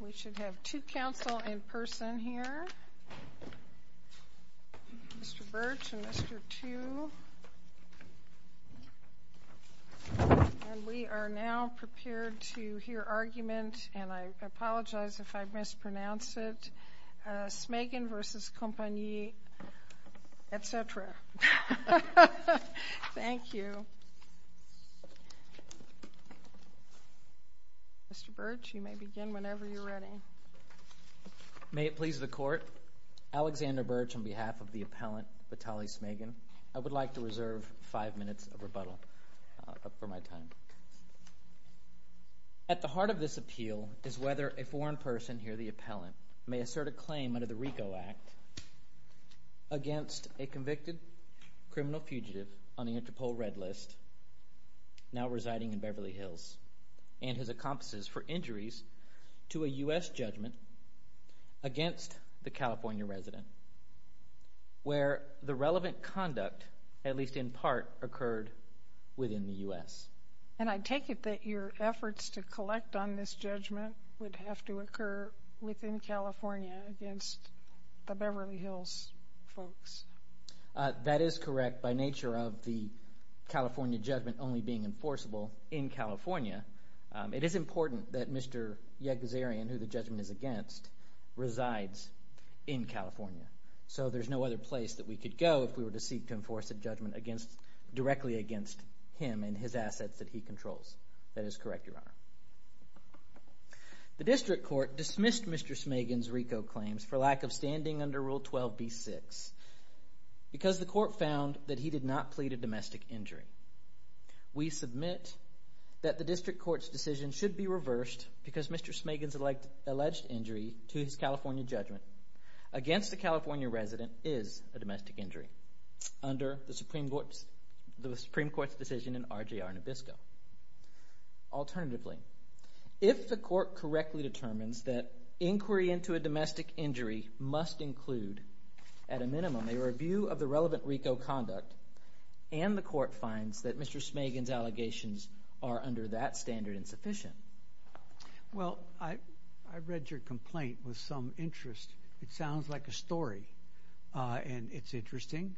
We should have two counsel in person here, Mr. Birch and Mr. Thieu, and we are now prepared to hear argument, and I apologize if I mispronounce it, Smagin v. Compagnie, etc. Mr. Birch, you may begin whenever you are ready. May it please the Court, Alexander Birch, on behalf of the appellant Vitaly Smagin, I would like to reserve five minutes of rebuttal for my time. At the heart of this appeal is whether a foreign person, here the appellant, may assert a claim under the RICO Act against a convicted criminal fugitive on the Interpol Red List now residing in Beverly Hills and his accomplices for injuries to a U.S. judgment against the California resident where the relevant conduct, at least in part, occurred within the U.S. And I take it that your efforts to collect on this judgment would have to occur within California against the Beverly Hills folks? That is correct. By nature of the California judgment only being enforceable in California, it is important that Mr. Yegazarian, who the judgment is against, resides in California. So there's no other place that we could go if we were to seek to enforce a judgment directly against him and his assets that he controls. That is correct, Your Honor. The district court dismissed Mr. Smagin's RICO claims for lack of standing under Rule 12b-6 because the court found that he did not plead a domestic injury. We submit that the district court's decision should be reversed because Mr. Smagin's alleged injury to his California judgment against a California resident is a domestic injury under the Supreme Court's decision in RJR Nabisco. Alternatively, if the court correctly determines that inquiry into a domestic injury must include, at a minimum, a review of the relevant RICO conduct, and the court finds that Mr. Smagin's allegations are under that standard insufficient... Well, I read your complaint with some interest. It sounds like a story, and it's interesting.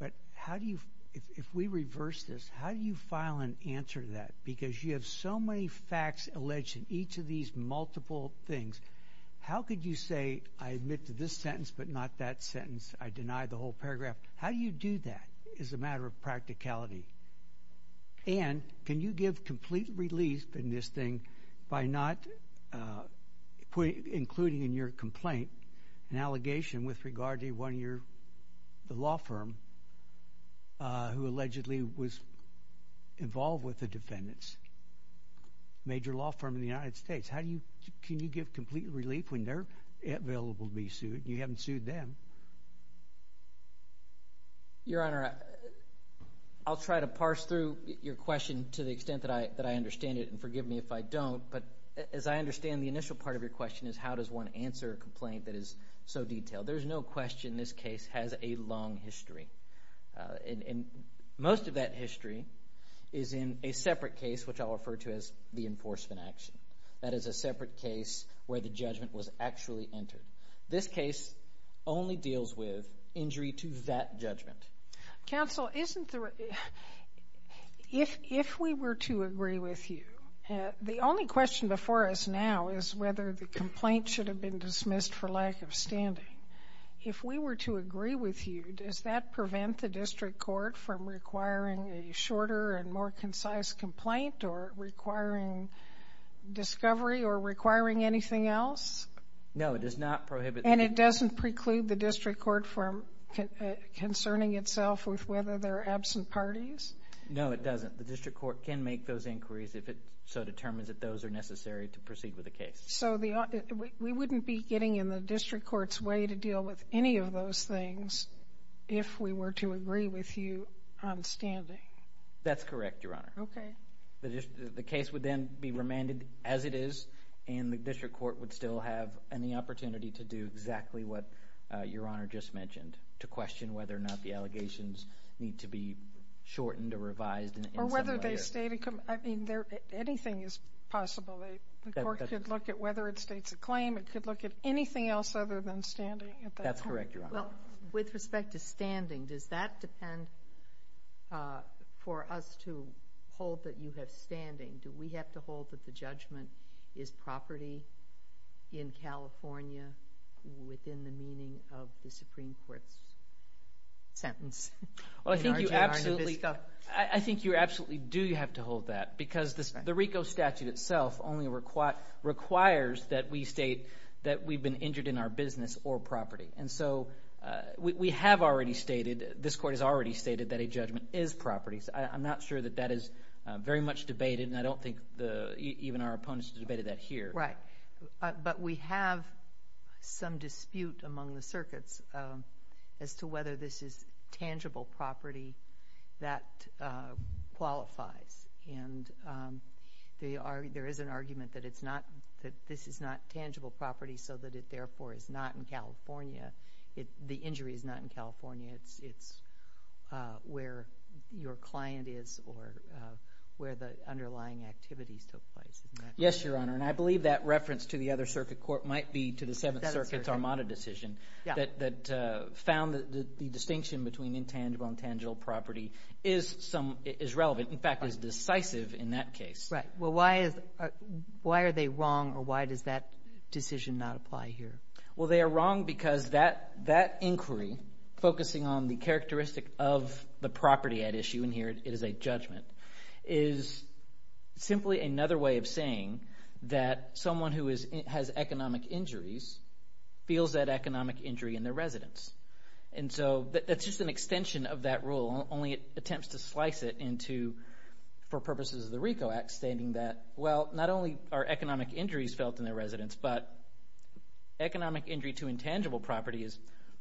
But how do you, if we reverse this, how do you file an answer to that? Because you have so many facts alleged in each of these multiple things. How could you say, I admit to this sentence, but not that sentence, I deny the whole paragraph. How do you do that as a matter of practicality? And can you give complete relief in this thing by not including in your complaint an allegation with regard to one of your, the law firm, who allegedly was involved with the defendants? Major law firm in the United States. How do you, can you give complete relief when they're available to be sued and you haven't sued them? Your Honor, I'll try to parse through your question to the extent that I understand it, and forgive me if I don't, but as I understand the initial part of your question is how does one answer a complaint that is so detailed? There's no question this case has a long history, and most of that history is in a separate case, which I'll refer to as the enforcement action. That is a separate case where the judgment was actually entered. This case only deals with injury to that judgment. Counsel, isn't the, if we were to agree with you, the only question before us now is whether the complaint should have been dismissed for lack of standing. If we were to agree with you, does that prevent the district court from requiring a shorter and more concise complaint or requiring discovery or requiring anything else? No, it does not prohibit. And it doesn't preclude the district court from concerning itself with whether there are absent parties? No, it doesn't. The district court can make those inquiries if it so determines that those are necessary to proceed with the case. So, we wouldn't be getting in the district court's way to deal with any of those things if we were to agree with you on standing. That's correct, Your Honor. Okay. The case would then be remanded as it is, and the district court would still have any opportunity to do exactly what Your Honor just mentioned, to question whether or not the allegations need to be shortened or revised in some way. I mean, anything is possible. The court could look at whether it states a claim. It could look at anything else other than standing at that point. That's correct, Your Honor. Well, with respect to standing, does that depend for us to hold that you have standing? Do we have to hold that the judgment is property in California within the meaning of the Supreme Court's sentence? Well, I think you absolutely do have to hold that because the RICO statute itself only requires that we state that we've been injured in our business or property. And so, we have already stated, this court has already stated that a judgment is property. I'm not sure that that is very much debated, and I don't think even our opponents have debated that here. Right. But we have some dispute among the circuits as to whether this is tangible property that qualifies. And there is an argument that it's not, that this is not tangible property so that it therefore is not in California. The injury is not in California. It's where your client is or where the underlying activities took place. Isn't that correct? Yes, Your Honor. And I believe that reference to the other circuit court might be to the Seventh Circuit's Armada decision that found that the distinction between intangible and tangible property is relevant, in fact, is decisive in that case. Right. Well, why are they wrong, or why does that decision not apply here? Well, they are wrong because that inquiry, focusing on the characteristic of the property at issue, and here it is a judgment, is simply another way of saying that someone who has economic injuries feels that economic injury in their residence. And so that's just an extension of that rule, only it attempts to slice it into, for purposes of the RICO Act, stating that, well, not only are economic injuries felt in their residence, but economic injury to intangible property is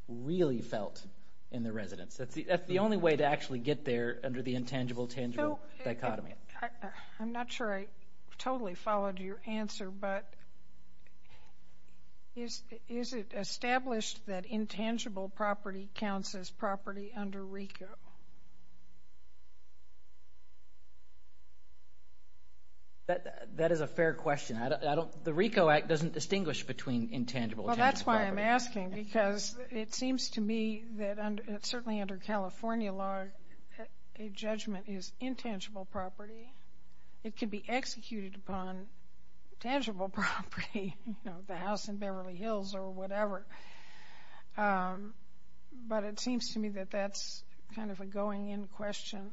really felt in their residence. That's the only way to actually get there under the intangible-tangible dichotomy. I'm not sure I totally followed your answer, but is it established that intangible property counts as property under RICO? That is a fair question. The RICO Act doesn't distinguish between intangible and tangible property. That's why I'm asking, because it seems to me that, certainly under California law, a judgment is intangible property. It can be executed upon tangible property, you know, the house in Beverly Hills or whatever. But it seems to me that that's kind of a going-in question.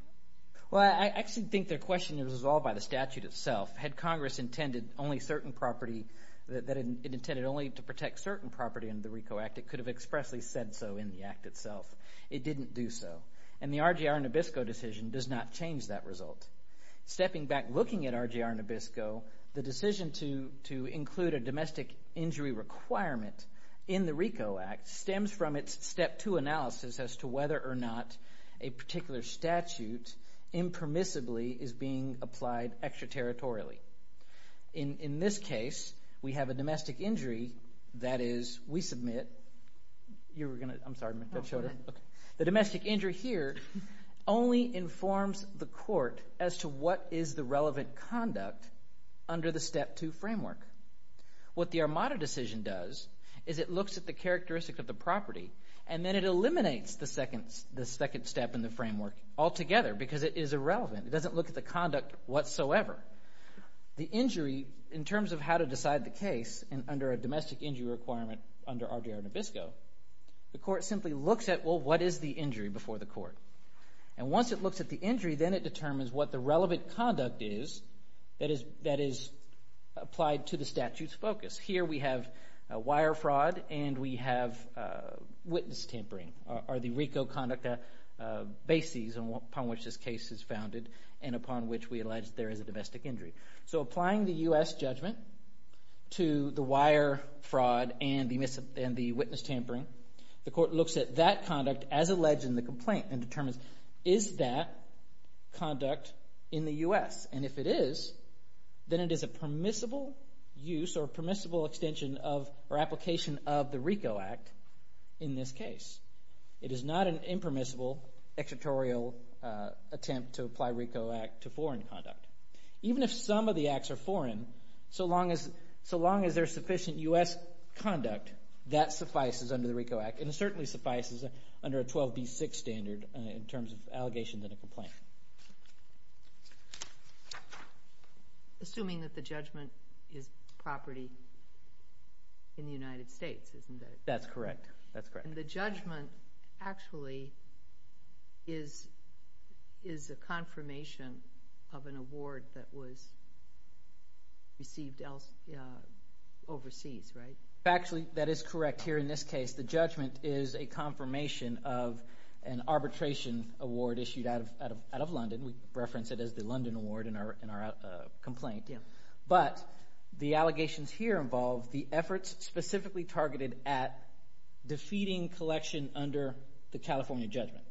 Well, I actually think their question is resolved by the statute itself. Had Congress intended only certain property, that it intended only to protect certain property under the RICO Act, it could have expressly said so in the Act itself. It didn't do so. And the RGR Nabisco decision does not change that result. Stepping back, looking at RGR Nabisco, the decision to include a domestic injury requirement in the RICO Act stems from its step two analysis as to whether or not a particular statute impermissibly is being applied extraterritorially. In this case, we have a domestic injury that is, we submit, you were going to, I'm sorry, the domestic injury here only informs the court as to what is the relevant conduct under the step two framework. What the Armada decision does is it looks at the characteristic of the property and then it eliminates the second step in the framework altogether because it is irrelevant. It doesn't look at the conduct whatsoever. The injury, in terms of how to decide the case under a domestic injury requirement under RGR Nabisco, the court simply looks at, well, what is the injury before the court? And once it looks at the injury, then it determines what the relevant conduct is that is applied to the statute's focus. Here we have wire fraud and we have witness tampering are the RICO conduct bases upon which this case is founded and upon which we allege there is a domestic injury. So applying the U.S. judgment to the wire fraud and the witness tampering, the court looks at that conduct as alleged in the complaint and determines, is that conduct in the U.S.? And if it is, then it is a permissible use or permissible extension of or application of the RICO Act in this case. It is not an impermissible, extraterritorial attempt to apply RICO Act to foreign conduct. Even if some of the acts are foreign, so long as there is sufficient U.S. conduct, that suffices under the RICO Act and it certainly suffices under a 12b6 standard in terms of Assuming that the judgment is property in the United States, isn't it? That's correct. That's correct. And the judgment actually is a confirmation of an award that was received overseas, right? Actually, that is correct. Here in this case, the judgment is a confirmation of an arbitration award issued out of London. We reference it as the London award in our complaint. But the allegations here involve the efforts specifically targeted at defeating collection under the California judgment.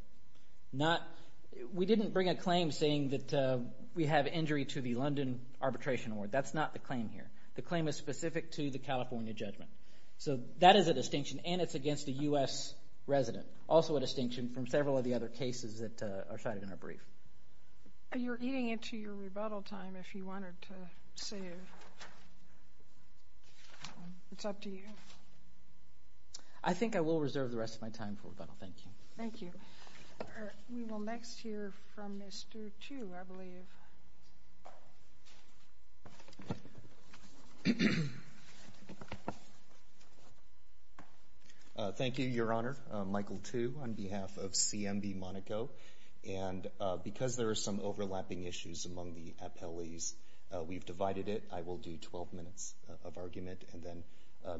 We didn't bring a claim saying that we have injury to the London arbitration award. That's not the claim here. The claim is specific to the California judgment. So that is a distinction and it's against a U.S. resident, also a distinction from several of the other cases that are cited in our brief. You're eating into your rebuttal time if you wanted to save. It's up to you. I think I will reserve the rest of my time for rebuttal. Thank you. Thank you. All right. We will next hear from Mr. Tu, I believe. Thank you, Your Honor. I'm Michael Tu on behalf of CMB Monaco. And because there are some overlapping issues among the appellees, we've divided it. I will do 12 minutes of argument, and then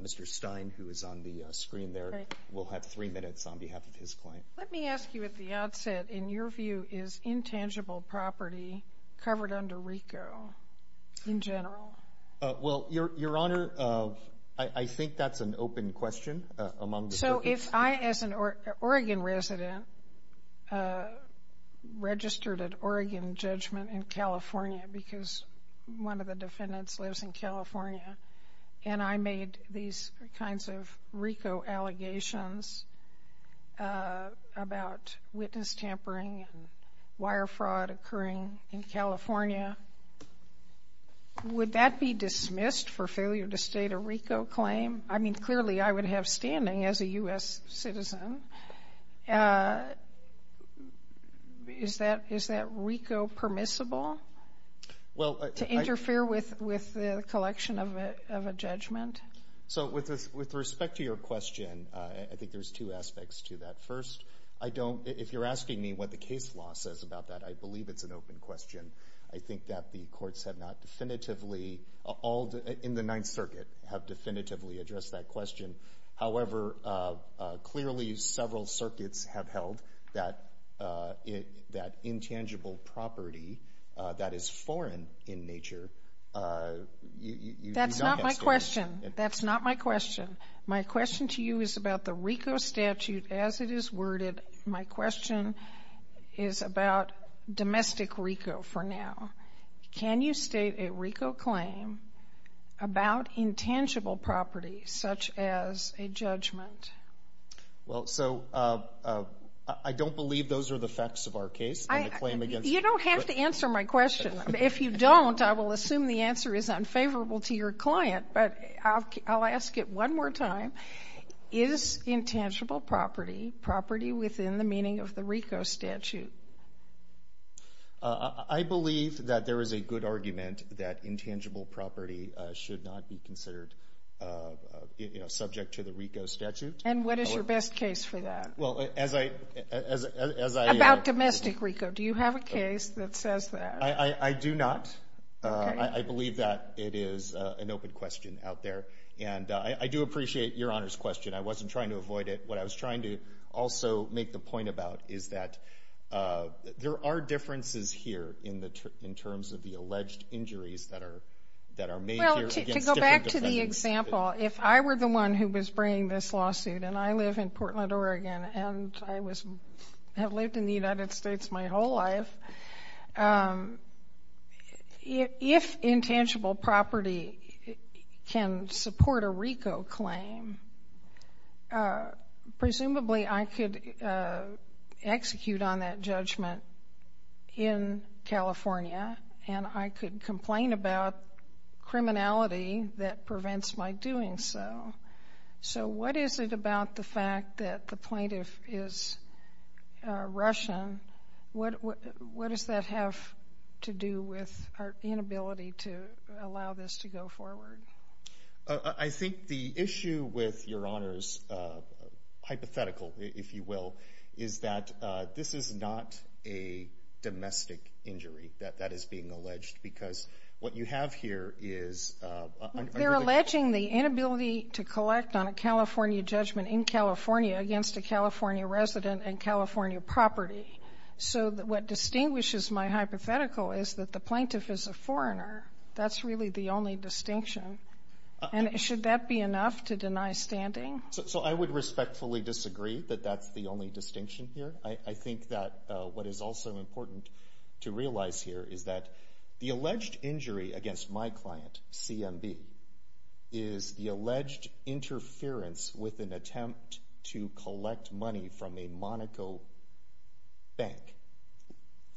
Mr. Stein, who is on the screen there, will have three minutes on behalf of his client. Let me ask you at the outset, in your view, is intangible property covered under RICO in general? Well, Your Honor, I think that's an open question. So, if I, as an Oregon resident, registered an Oregon judgment in California because one of the defendants lives in California, and I made these kinds of RICO allegations about witness tampering and wire fraud occurring in California, would that be dismissed for failure to state a RICO claim? I mean, clearly, I would have standing as a U.S. citizen. Is that RICO permissible to interfere with the collection of a judgment? So with respect to your question, I think there's two aspects to that. First, if you're asking me what the case law says about that, I believe it's an open question. I think that the courts have not definitively, in the Ninth Circuit, have definitively addressed that question. However, clearly, several circuits have held that intangible property that is foreign in nature, you don't have to ask. That's not my question. My question to you is about the RICO statute as it is worded. My question is about domestic RICO for now. Can you state a RICO claim about intangible property, such as a judgment? Well, so I don't believe those are the facts of our case. You don't have to answer my question. If you don't, I will assume the answer is unfavorable to your client, but I'll ask it one more time. Is intangible property, property within the meaning of the RICO statute? I believe that there is a good argument that intangible property should not be considered subject to the RICO statute. And what is your best case for that? Well, as I... About domestic RICO. Do you have a case that says that? I do not. I believe that it is an open question out there. And I do appreciate Your Honor's question. I wasn't trying to avoid it. What I was trying to also make the point about is that there are differences here in the terms of the alleged injuries that are made here against different defendants. Well, to go back to the example, if I were the one who was bringing this lawsuit and I live in Portland, Oregon, and I have lived in the United States my whole life, if intangible property can support a RICO claim, presumably I could execute on that judgment in California, and I could complain about criminality that prevents my doing so. So what is it about the fact that the plaintiff is Russian? What does that have to do with our inability to allow this to go forward? I think the issue with Your Honor's hypothetical, if you will, is that this is not a domestic injury that is being alleged because what you have here is... They're alleging the inability to collect on a California judgment in California against a California resident and California property. So what distinguishes my hypothetical is that the plaintiff is a foreigner. That's really the only distinction. And should that be enough to deny standing? So I would respectfully disagree that that's the only distinction here. I think that what is also important to realize here is that the alleged injury against my client, CMB, is the alleged interference with an attempt to collect money from a Monaco bank,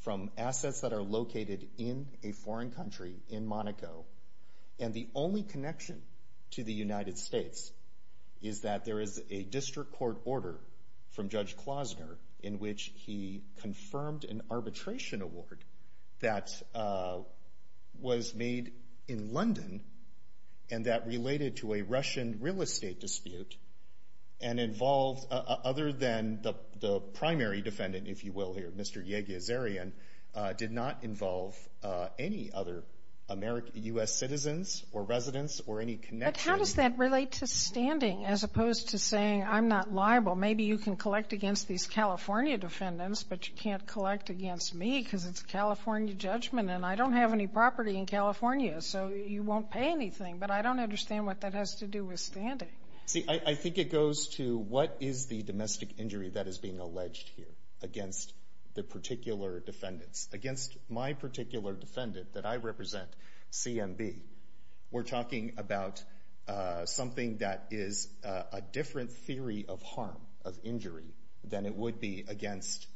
from assets that are located in a foreign country in Monaco, and the only connection to the United States is that there is a district court order from Judge Klosner in which he confirmed an arbitration award that was made in London and that related to a Russian real estate dispute and involved, other than the primary defendant, if you will, here, Mr. Yegezerian, did not involve any other U.S. citizens or residents or any connection. But how does that relate to standing as opposed to saying, I'm not liable? Maybe you can collect against these California defendants, but you can't against me because it's a California judgment and I don't have any property in California, so you won't pay anything. But I don't understand what that has to do with standing. See, I think it goes to what is the domestic injury that is being alleged here against the particular defendants? Against my particular defendant that I represent, CMB, we're talking about something that is a different theory of harm, of injury, than it would be against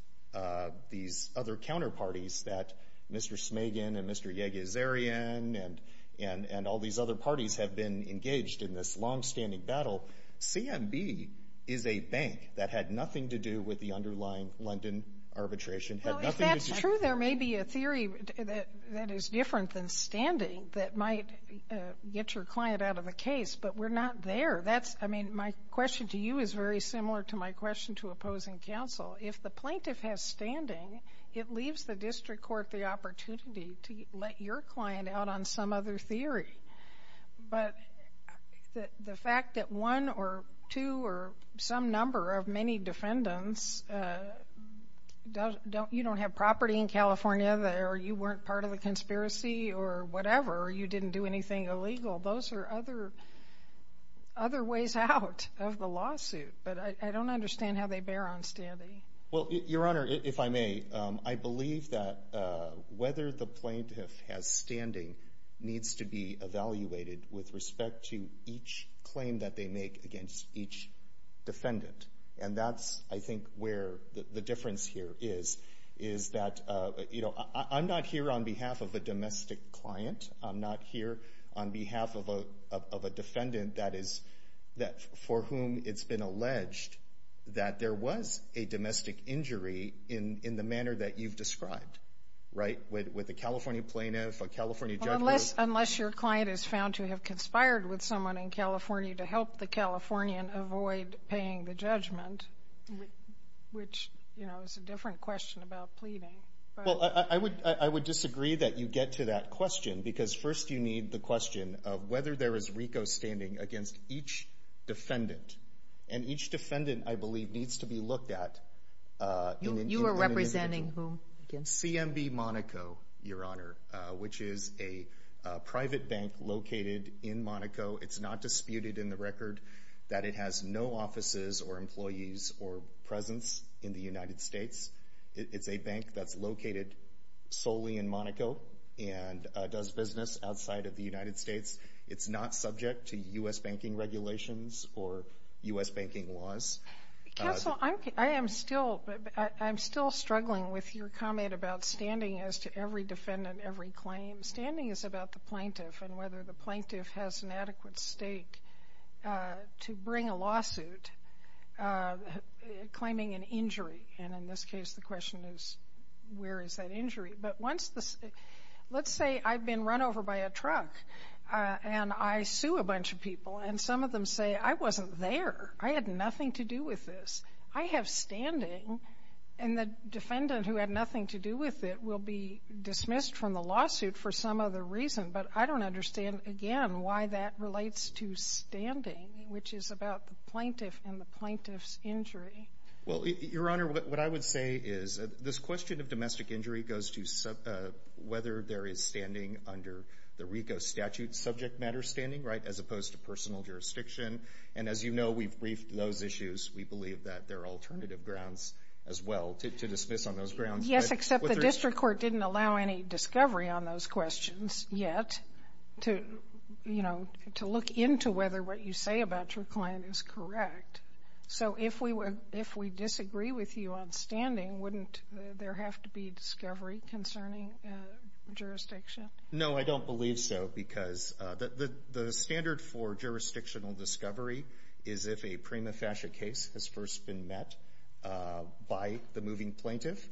these other counterparties that Mr. Smagen and Mr. Yegezerian and all these other parties have been engaged in this long-standing battle. CMB is a bank that had nothing to do with the underlying London arbitration, had nothing to do with- Well, if that's true, there may be a theory that is different than standing that might get your client out of the case, but we're not there. That's, I mean, my question to you is very similar to my question to opposing counsel. If the plaintiff has standing, it leaves the district court the opportunity to let your client out on some other theory. But the fact that one or two or some number of many defendants don't- you don't have property in California, or you weren't part of the conspiracy or whatever, or you didn't do anything illegal, those are other ways out of the Well, Your Honor, if I may, I believe that whether the plaintiff has standing needs to be evaluated with respect to each claim that they make against each defendant. And that's, I think, where the difference here is, is that, you know, I'm not here on behalf of a domestic client. I'm not here on behalf of a defendant that is- for whom it's been alleged that there was a domestic injury in the manner that you've described, right? With a California plaintiff, a California judge- Unless your client is found to have conspired with someone in California to help the Californian avoid paying the judgment, which, you know, is a different question about pleading. Well, I would disagree that you get to that question, because first you need the question of whether there is RICO standing against each defendant. And each defendant, I believe, needs to be looked at in an individual. You are representing whom? CMB Monaco, Your Honor, which is a private bank located in Monaco. It's not disputed in the record that it has no offices or employees or presence in the United States. It's a bank that's located solely in Monaco and does business outside of the United States. It's not subject to U.S. banking regulations or U.S. banking laws. Counsel, I am still struggling with your comment about standing as to every defendant, every claim. Standing is about the plaintiff and whether the plaintiff has an adequate stake to bring a lawsuit claiming an injury. And in this case, the question is, where is that injury? But once the — let's say I've been run over by a truck, and I sue a bunch of people, and some of them say, I wasn't there. I had nothing to do with this. I have standing. And the defendant who had nothing to do with it will be dismissed from the lawsuit for some other reason. But I don't understand, again, why that relates to standing, which is about the plaintiff and the plaintiff's injury. Well, Your Honor, what I would say is this question of domestic injury goes to whether there is standing under the RICO statute, subject matter standing, right, as opposed to personal jurisdiction. And as you know, we've briefed those issues. We believe that there are alternative grounds as well to dismiss on those grounds. Yes, except the district court didn't allow any discovery on those questions yet to, you know, to look into whether what you say about your client is correct. So if we disagree with you on standing, wouldn't there have to be discovery? Concerning jurisdiction? No, I don't believe so. Because the standard for jurisdictional discovery is if a prima facie case has first been met by the moving plaintiff.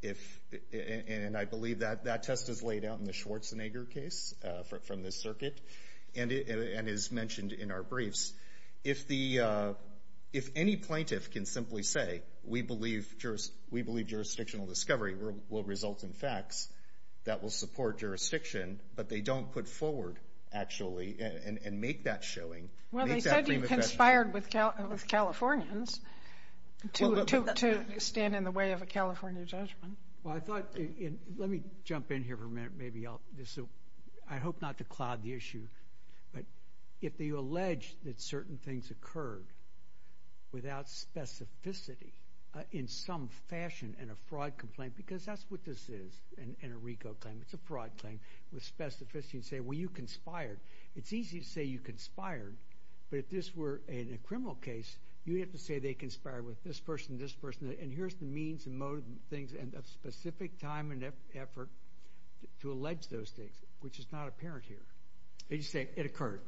If, and I believe that that test is laid out in the Schwarzenegger case from this circuit, and is mentioned in our briefs. If the, if any plaintiff can simply say, we believe jurisdictional discovery, will result in facts that will support jurisdiction, but they don't put forward actually and make that showing. Well, they said you conspired with Californians to stand in the way of a California judgment. Well, I thought, let me jump in here for a minute. Maybe I'll just, I hope not to cloud the issue. But if they allege that certain things occurred without specificity in some fashion, and a fraud complaint, because that's what this is in a RICO claim. It's a fraud claim with specificity and say, well, you conspired. It's easy to say you conspired. But if this were in a criminal case, you'd have to say they conspired with this person, this person. And here's the means and modes and things and a specific time and effort to allege those things, which is not apparent here. They just say, it occurred.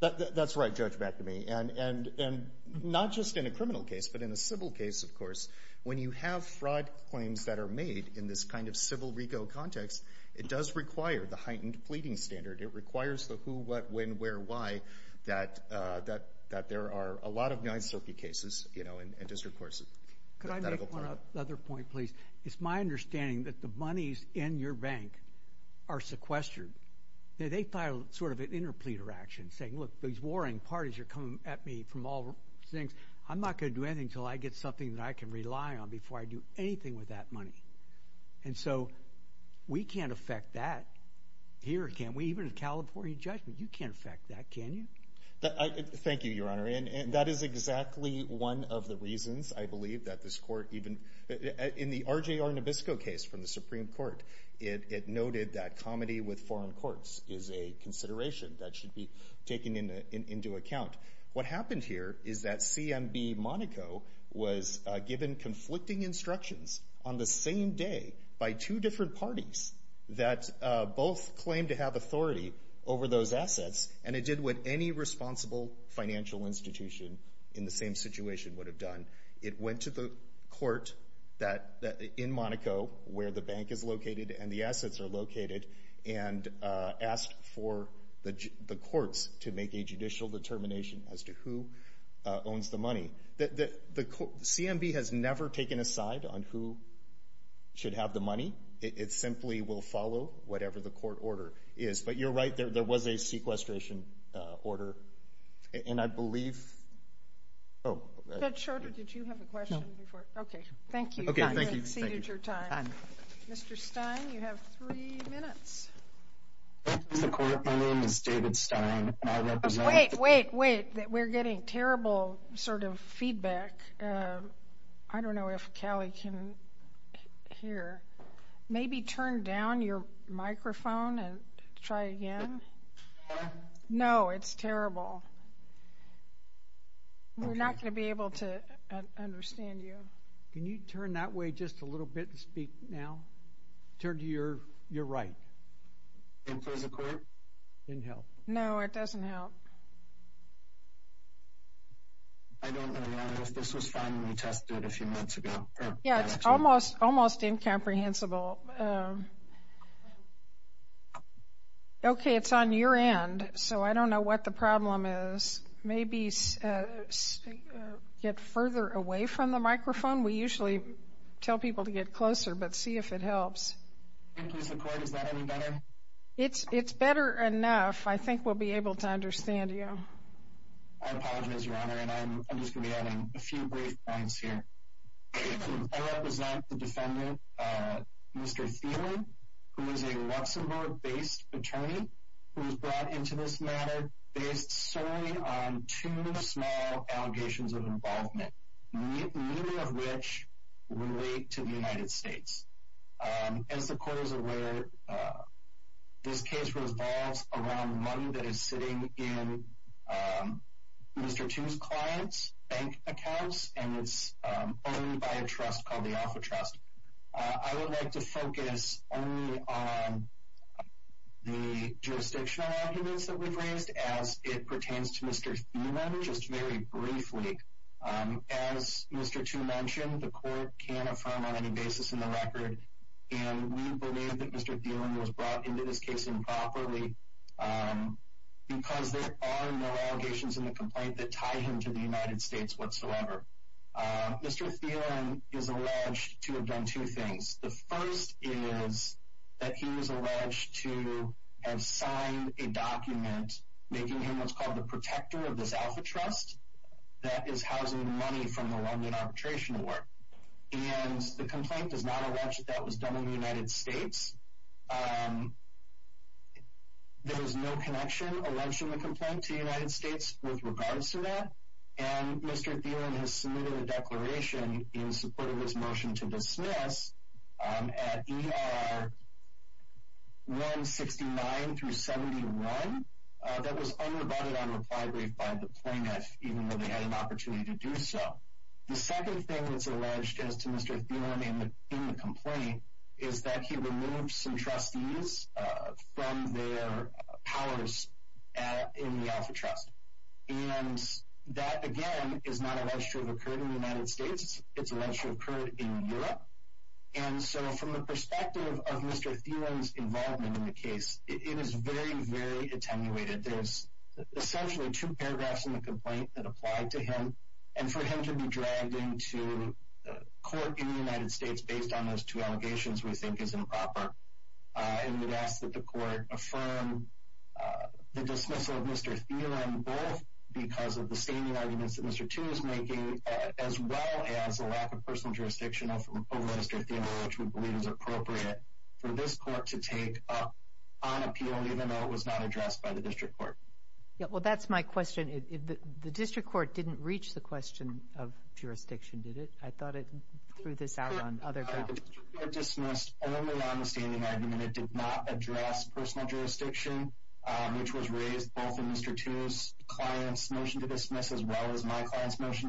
That's right, Judge Bacame. And not just in a criminal case, but in a civil case, of course. When you have fraud claims that are made in this kind of civil RICO context, it does require the heightened pleading standard. It requires the who, what, when, where, why that there are a lot of non-circuit cases in district courts. Could I make one other point, please? It's my understanding that the monies in your bank are sequestered. They file sort of an interpleader action saying, look, these warring parties are coming at me from all things. I'm not going to do anything until I get something that I can rely on before I do anything with that money. And so we can't affect that here, can we? Even in California judgment, you can't affect that, can you? Thank you, Your Honor. And that is exactly one of the reasons, I believe, that this court even in the RJR Nabisco case from the Supreme Court, it noted that comedy with foreign courts is a consideration that should be taken into account. What happened here is that CMB Monaco was given conflicting instructions on the same day by two different parties that both claimed to have authority over those assets, and it did what any responsible financial institution in the same situation would have done. It went to the court in Monaco, where the bank is located and the assets are located, and asked for the courts to make a judicial determination as to who owns the money. CMB has never taken a side on who should have the money. It simply will follow whatever the court order is. But you're right, there was a sequestration order. And I believe... Oh. Judge Shorter, did you have a question before? No. Okay. Thank you. Okay, thank you. You exceeded your time. Mr. Stein, you have three minutes. Thank you, Mr. Court. My name is David Stein, and I represent... Wait, wait, wait. We're getting terrible sort of feedback. I don't know if Callie can hear. Maybe turn down your microphone and try again. No, it's terrible. We're not going to be able to understand you. Can you turn that way just a little bit and speak now? Turn to your right. Can you please record? Didn't help. No, it doesn't help. I don't know if this was finally tested a few months ago. Yeah, it's almost incomprehensible. Okay, it's on your end, so I don't know what the problem is. Maybe get further away from the microphone. We usually tell people to get closer, but see if it helps. Thank you, Mr. Court. Is that any better? It's better enough. I think we'll be able to understand you. I apologize, Your Honor, and I'm just going to be adding a few brief points here. I represent the defendant, Mr. Thielen, who is a Luxembourg-based attorney who was brought into this matter based solely on two small allegations of involvement, many of which relate to the United States. As the court is aware, this case revolves around money that is sitting in Mr. Thielen's client's bank accounts, and it's owned by a trust called the Alpha Trust. I would like to focus only on the jurisdictional arguments that we've raised, as it pertains to Mr. Thielen, just very briefly. As Mr. Tu mentioned, the court can't affirm on any basis in the record, and we believe that Mr. Thielen was brought into this case improperly because there are no allegations in the complaint that tie him to the United States whatsoever. Mr. Thielen is alleged to have done two things. The first is that he was alleged to have signed a document making him what's called the protector of this Alpha Trust that is housing money from the London Arbitration Award, and the complaint does not allege that that was done in the United States. There is no connection, alleged in the complaint, to the United States with regards to that, and Mr. Thielen has submitted a declaration in support of his motion to dismiss at ER 169 through 71 that was undivided on reply brief by the plaintiff, even though they had an opportunity to do so. The second thing that's alleged as to Mr. Thielen in the complaint is that he removed some is not alleged to have occurred in the United States. It's alleged to have occurred in Europe, and so from the perspective of Mr. Thielen's involvement in the case, it is very, very attenuated. There's essentially two paragraphs in the complaint that apply to him, and for him to be dragged into court in the United States based on those two allegations we think is appropriate for this court to take up on appeal, even though it was not addressed by the district court. Yeah, well, that's my question. The district court didn't reach the question of jurisdiction, did it? I thought it threw this out on other grounds. The district court dismissed only on the standing argument. It did not address personal jurisdiction, which was raised both in my client's motion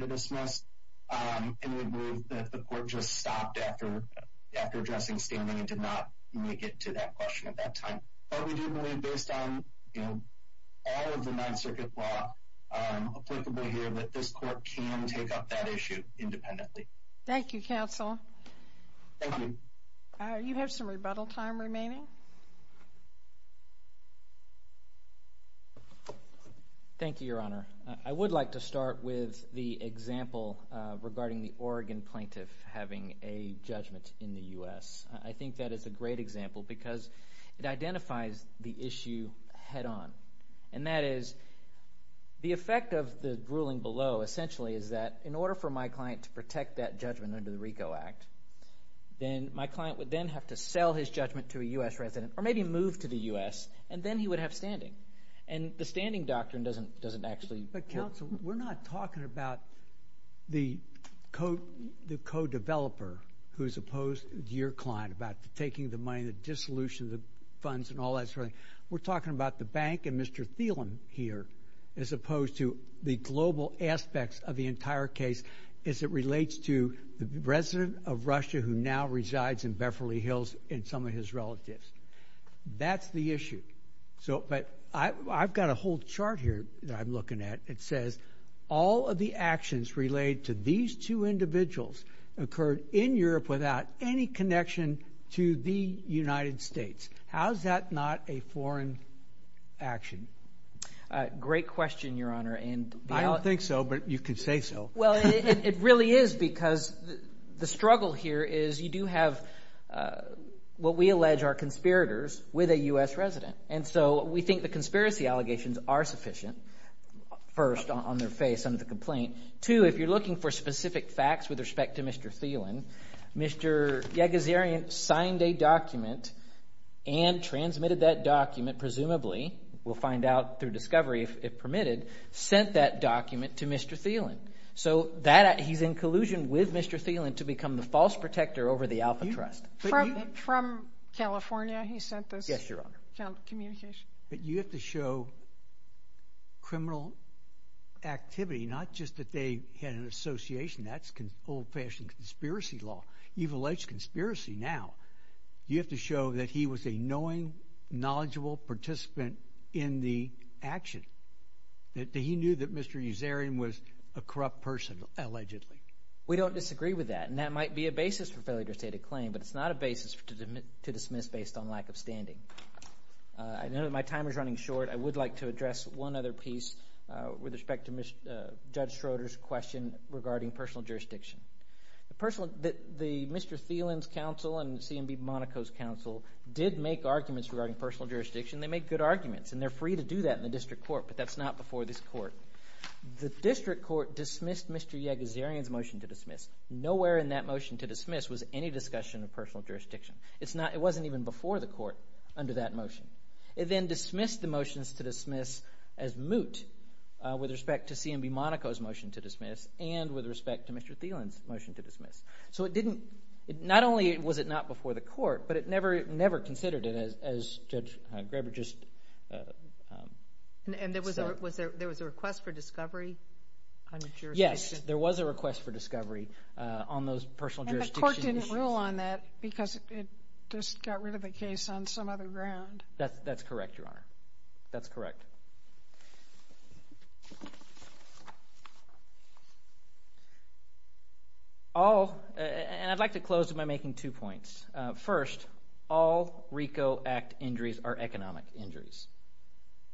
to dismiss, and we believe that the court just stopped after addressing standing and did not make it to that question at that time. But we do believe, based on, you know, all of the Ninth Circuit law applicable here, that this court can take up that issue independently. Thank you, counsel. Thank you. You have some rebuttal time remaining. Thank you, Your Honor. I would like to start with the example regarding the Oregon plaintiff having a judgment in the U.S. I think that is a great example because it identifies the issue head-on, and that is the effect of the ruling below essentially is that in order for my client to protect that judgment under the RICO Act, then my client would then have to sell his judgment to a U.S. resident or maybe move to the U.S., and then he would have standing. And the standing doctrine doesn't actually... But, counsel, we're not talking about the co-developer who's opposed to your client about taking the money, the dissolution of the funds and all that sort of thing. We're talking about the bank and Mr. Thielen here as opposed to the global aspects of the entire case as it relates to the resident of Russia who now resides in Beverly Hills and some of his relatives. That's the issue. But I've got a whole chart here that I'm looking at. It says all of the actions related to these two individuals occurred in Europe without any connection to the United States. How is that not a foreign action? Great question, Your Honor. I don't think so, but you can say so. Well, it really is because the struggle here is you do have what we allege are conspirators with a U.S. resident, and so we think the conspiracy allegations are sufficient, first, on their face under the complaint. Two, if you're looking for specific facts with respect to Mr. Thielen, Mr. Yegezerian signed a document and transmitted that document, presumably, we'll find out through discovery if permitted, sent that document to Mr. Thielen to become the false protector over the Alpha Trust. From California, he sent this? Yes, Your Honor. But you have to show criminal activity, not just that they had an association. That's old-fashioned conspiracy law. You've alleged conspiracy now. You have to show that he was a knowing, knowledgeable participant in the action, that he knew that Mr. Yegezerian was a corrupt person, allegedly. We don't disagree with that, and that might be a basis for failure to state a claim, but it's not a basis to dismiss based on lack of standing. I know that my time is running short. I would like to address one other piece with respect to Judge Schroeder's question regarding personal jurisdiction. The Mr. Thielen's counsel and CMB Monaco's counsel did make arguments regarding personal jurisdiction. They made good arguments, and they're free to do that in the Mr. Yegezerian's motion to dismiss. Nowhere in that motion to dismiss was any discussion of personal jurisdiction. It wasn't even before the court under that motion. It then dismissed the motions to dismiss as moot with respect to CMB Monaco's motion to dismiss and with respect to Mr. Thielen's motion to dismiss. So, not only was it not before the court, but it never considered as Judge Graber just said. And there was a request for discovery on the jurisdiction? Yes, there was a request for discovery on those personal jurisdictions. And the court didn't rule on that because it just got rid of the case on some other ground? That's correct, Your Honor. That's correct. All, and I'd like to close by making two points. First, all RICO Act injuries are economic injuries.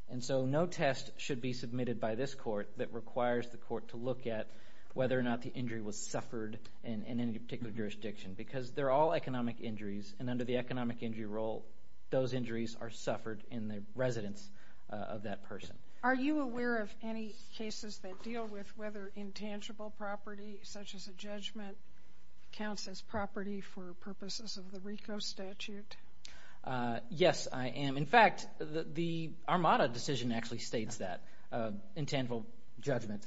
And so no test should be submitted by this court that requires the court to look at whether or not the injury was suffered in any particular jurisdiction. Because they're all economic injuries, and under the economic injury rule, those injuries are suffered in the residence of that person. Are you aware of any cases that deal with whether intangible property, such as a judgment, counts as property for purposes of the RICO statute? Yes, I am. In fact, the Armada decision actually states that intangible judgment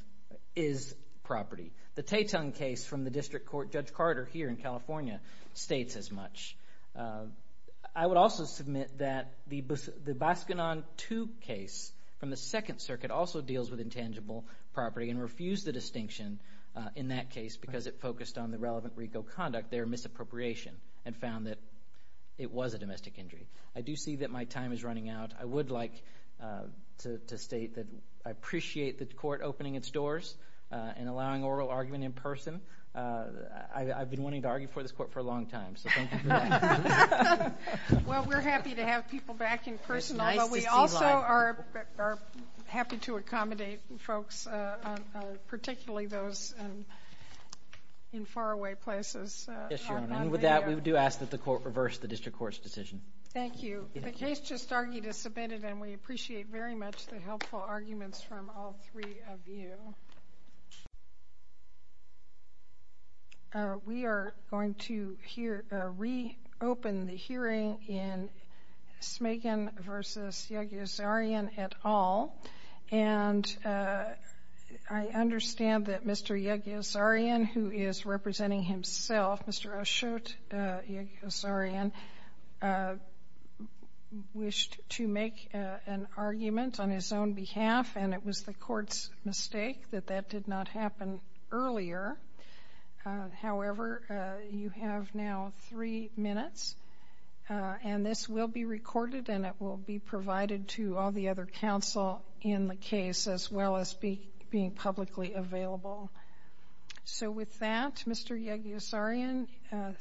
is property. The Taitung case from the District Court, Judge Carter here in California, states as much. I would also submit that the Bascanon 2 case from the Second Circuit also deals with intangible property and refused the distinction in that case because it focused on the relevant RICO conduct, their misappropriation, and found that it was a domestic injury. I do see that my time is running out. I would like to state that I appreciate the court opening its doors and allowing oral argument in person. I've been wanting to argue for this court for a long time. Well, we're happy to have people back in person, but we also are happy to accommodate folks, particularly those in faraway places. With that, we do ask that the court reverse the District Court's decision. Thank you. The case just argued is submitted, and we appreciate very much the helpful arguments from all three of you. We are going to reopen the hearing in Smagan v. Yagyosarian et al. And I understand that Mr. Yagyosarian, who is representing himself, Mr. Ashut Yagyosarian, wished to make an argument on his own behalf, and it was the court's mistake that that did not happen earlier. However, you have now three minutes, and this will be recorded and it will be provided to all the other counsel in the case as well as being publicly available. So with that, Mr. Yagyosarian,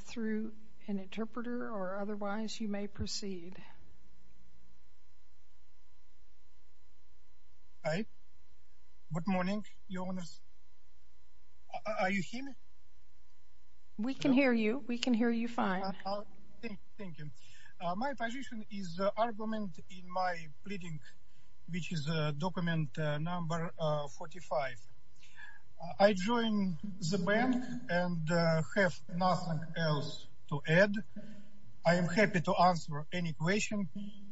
through an interpreter or otherwise, you may proceed. Hi. Good morning, Your Honor. Are you here? We can hear you. We can hear you fine. Thank you. My position is the argument in my pleading, which is document number 45. I join the bank and have nothing else to add. I am happy to answer any question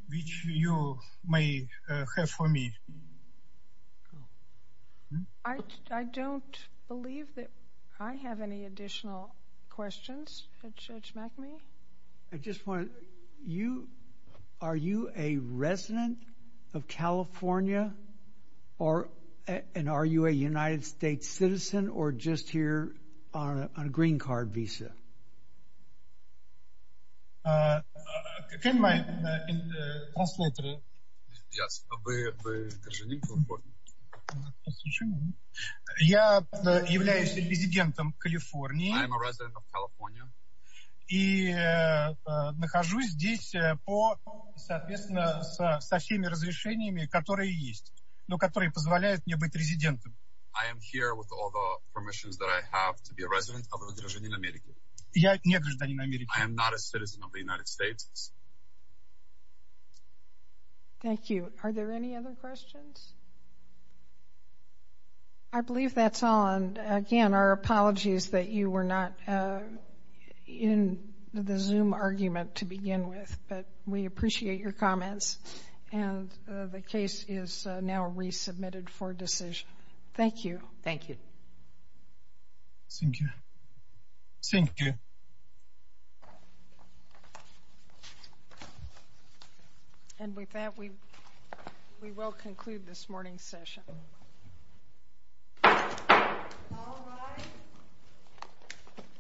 which you may have for me. I don't believe that I have any additional questions, Judge Macmee. I just want to — are you a resident of California, and are you a United States citizen, or just here on a green card visa? Can my translator? Yes. Are you a resident of California? I am here with all the permissions that I have to be a resident of the United States. I am not a citizen of the United States. Thank you. Are there any other questions? I believe that's all. And again, our apologies that you were not in the Zoom argument to begin with, but we appreciate your comments. And the case is now resubmitted for decision. Thank you. Thank you. And with that, we will conclude this morning's session.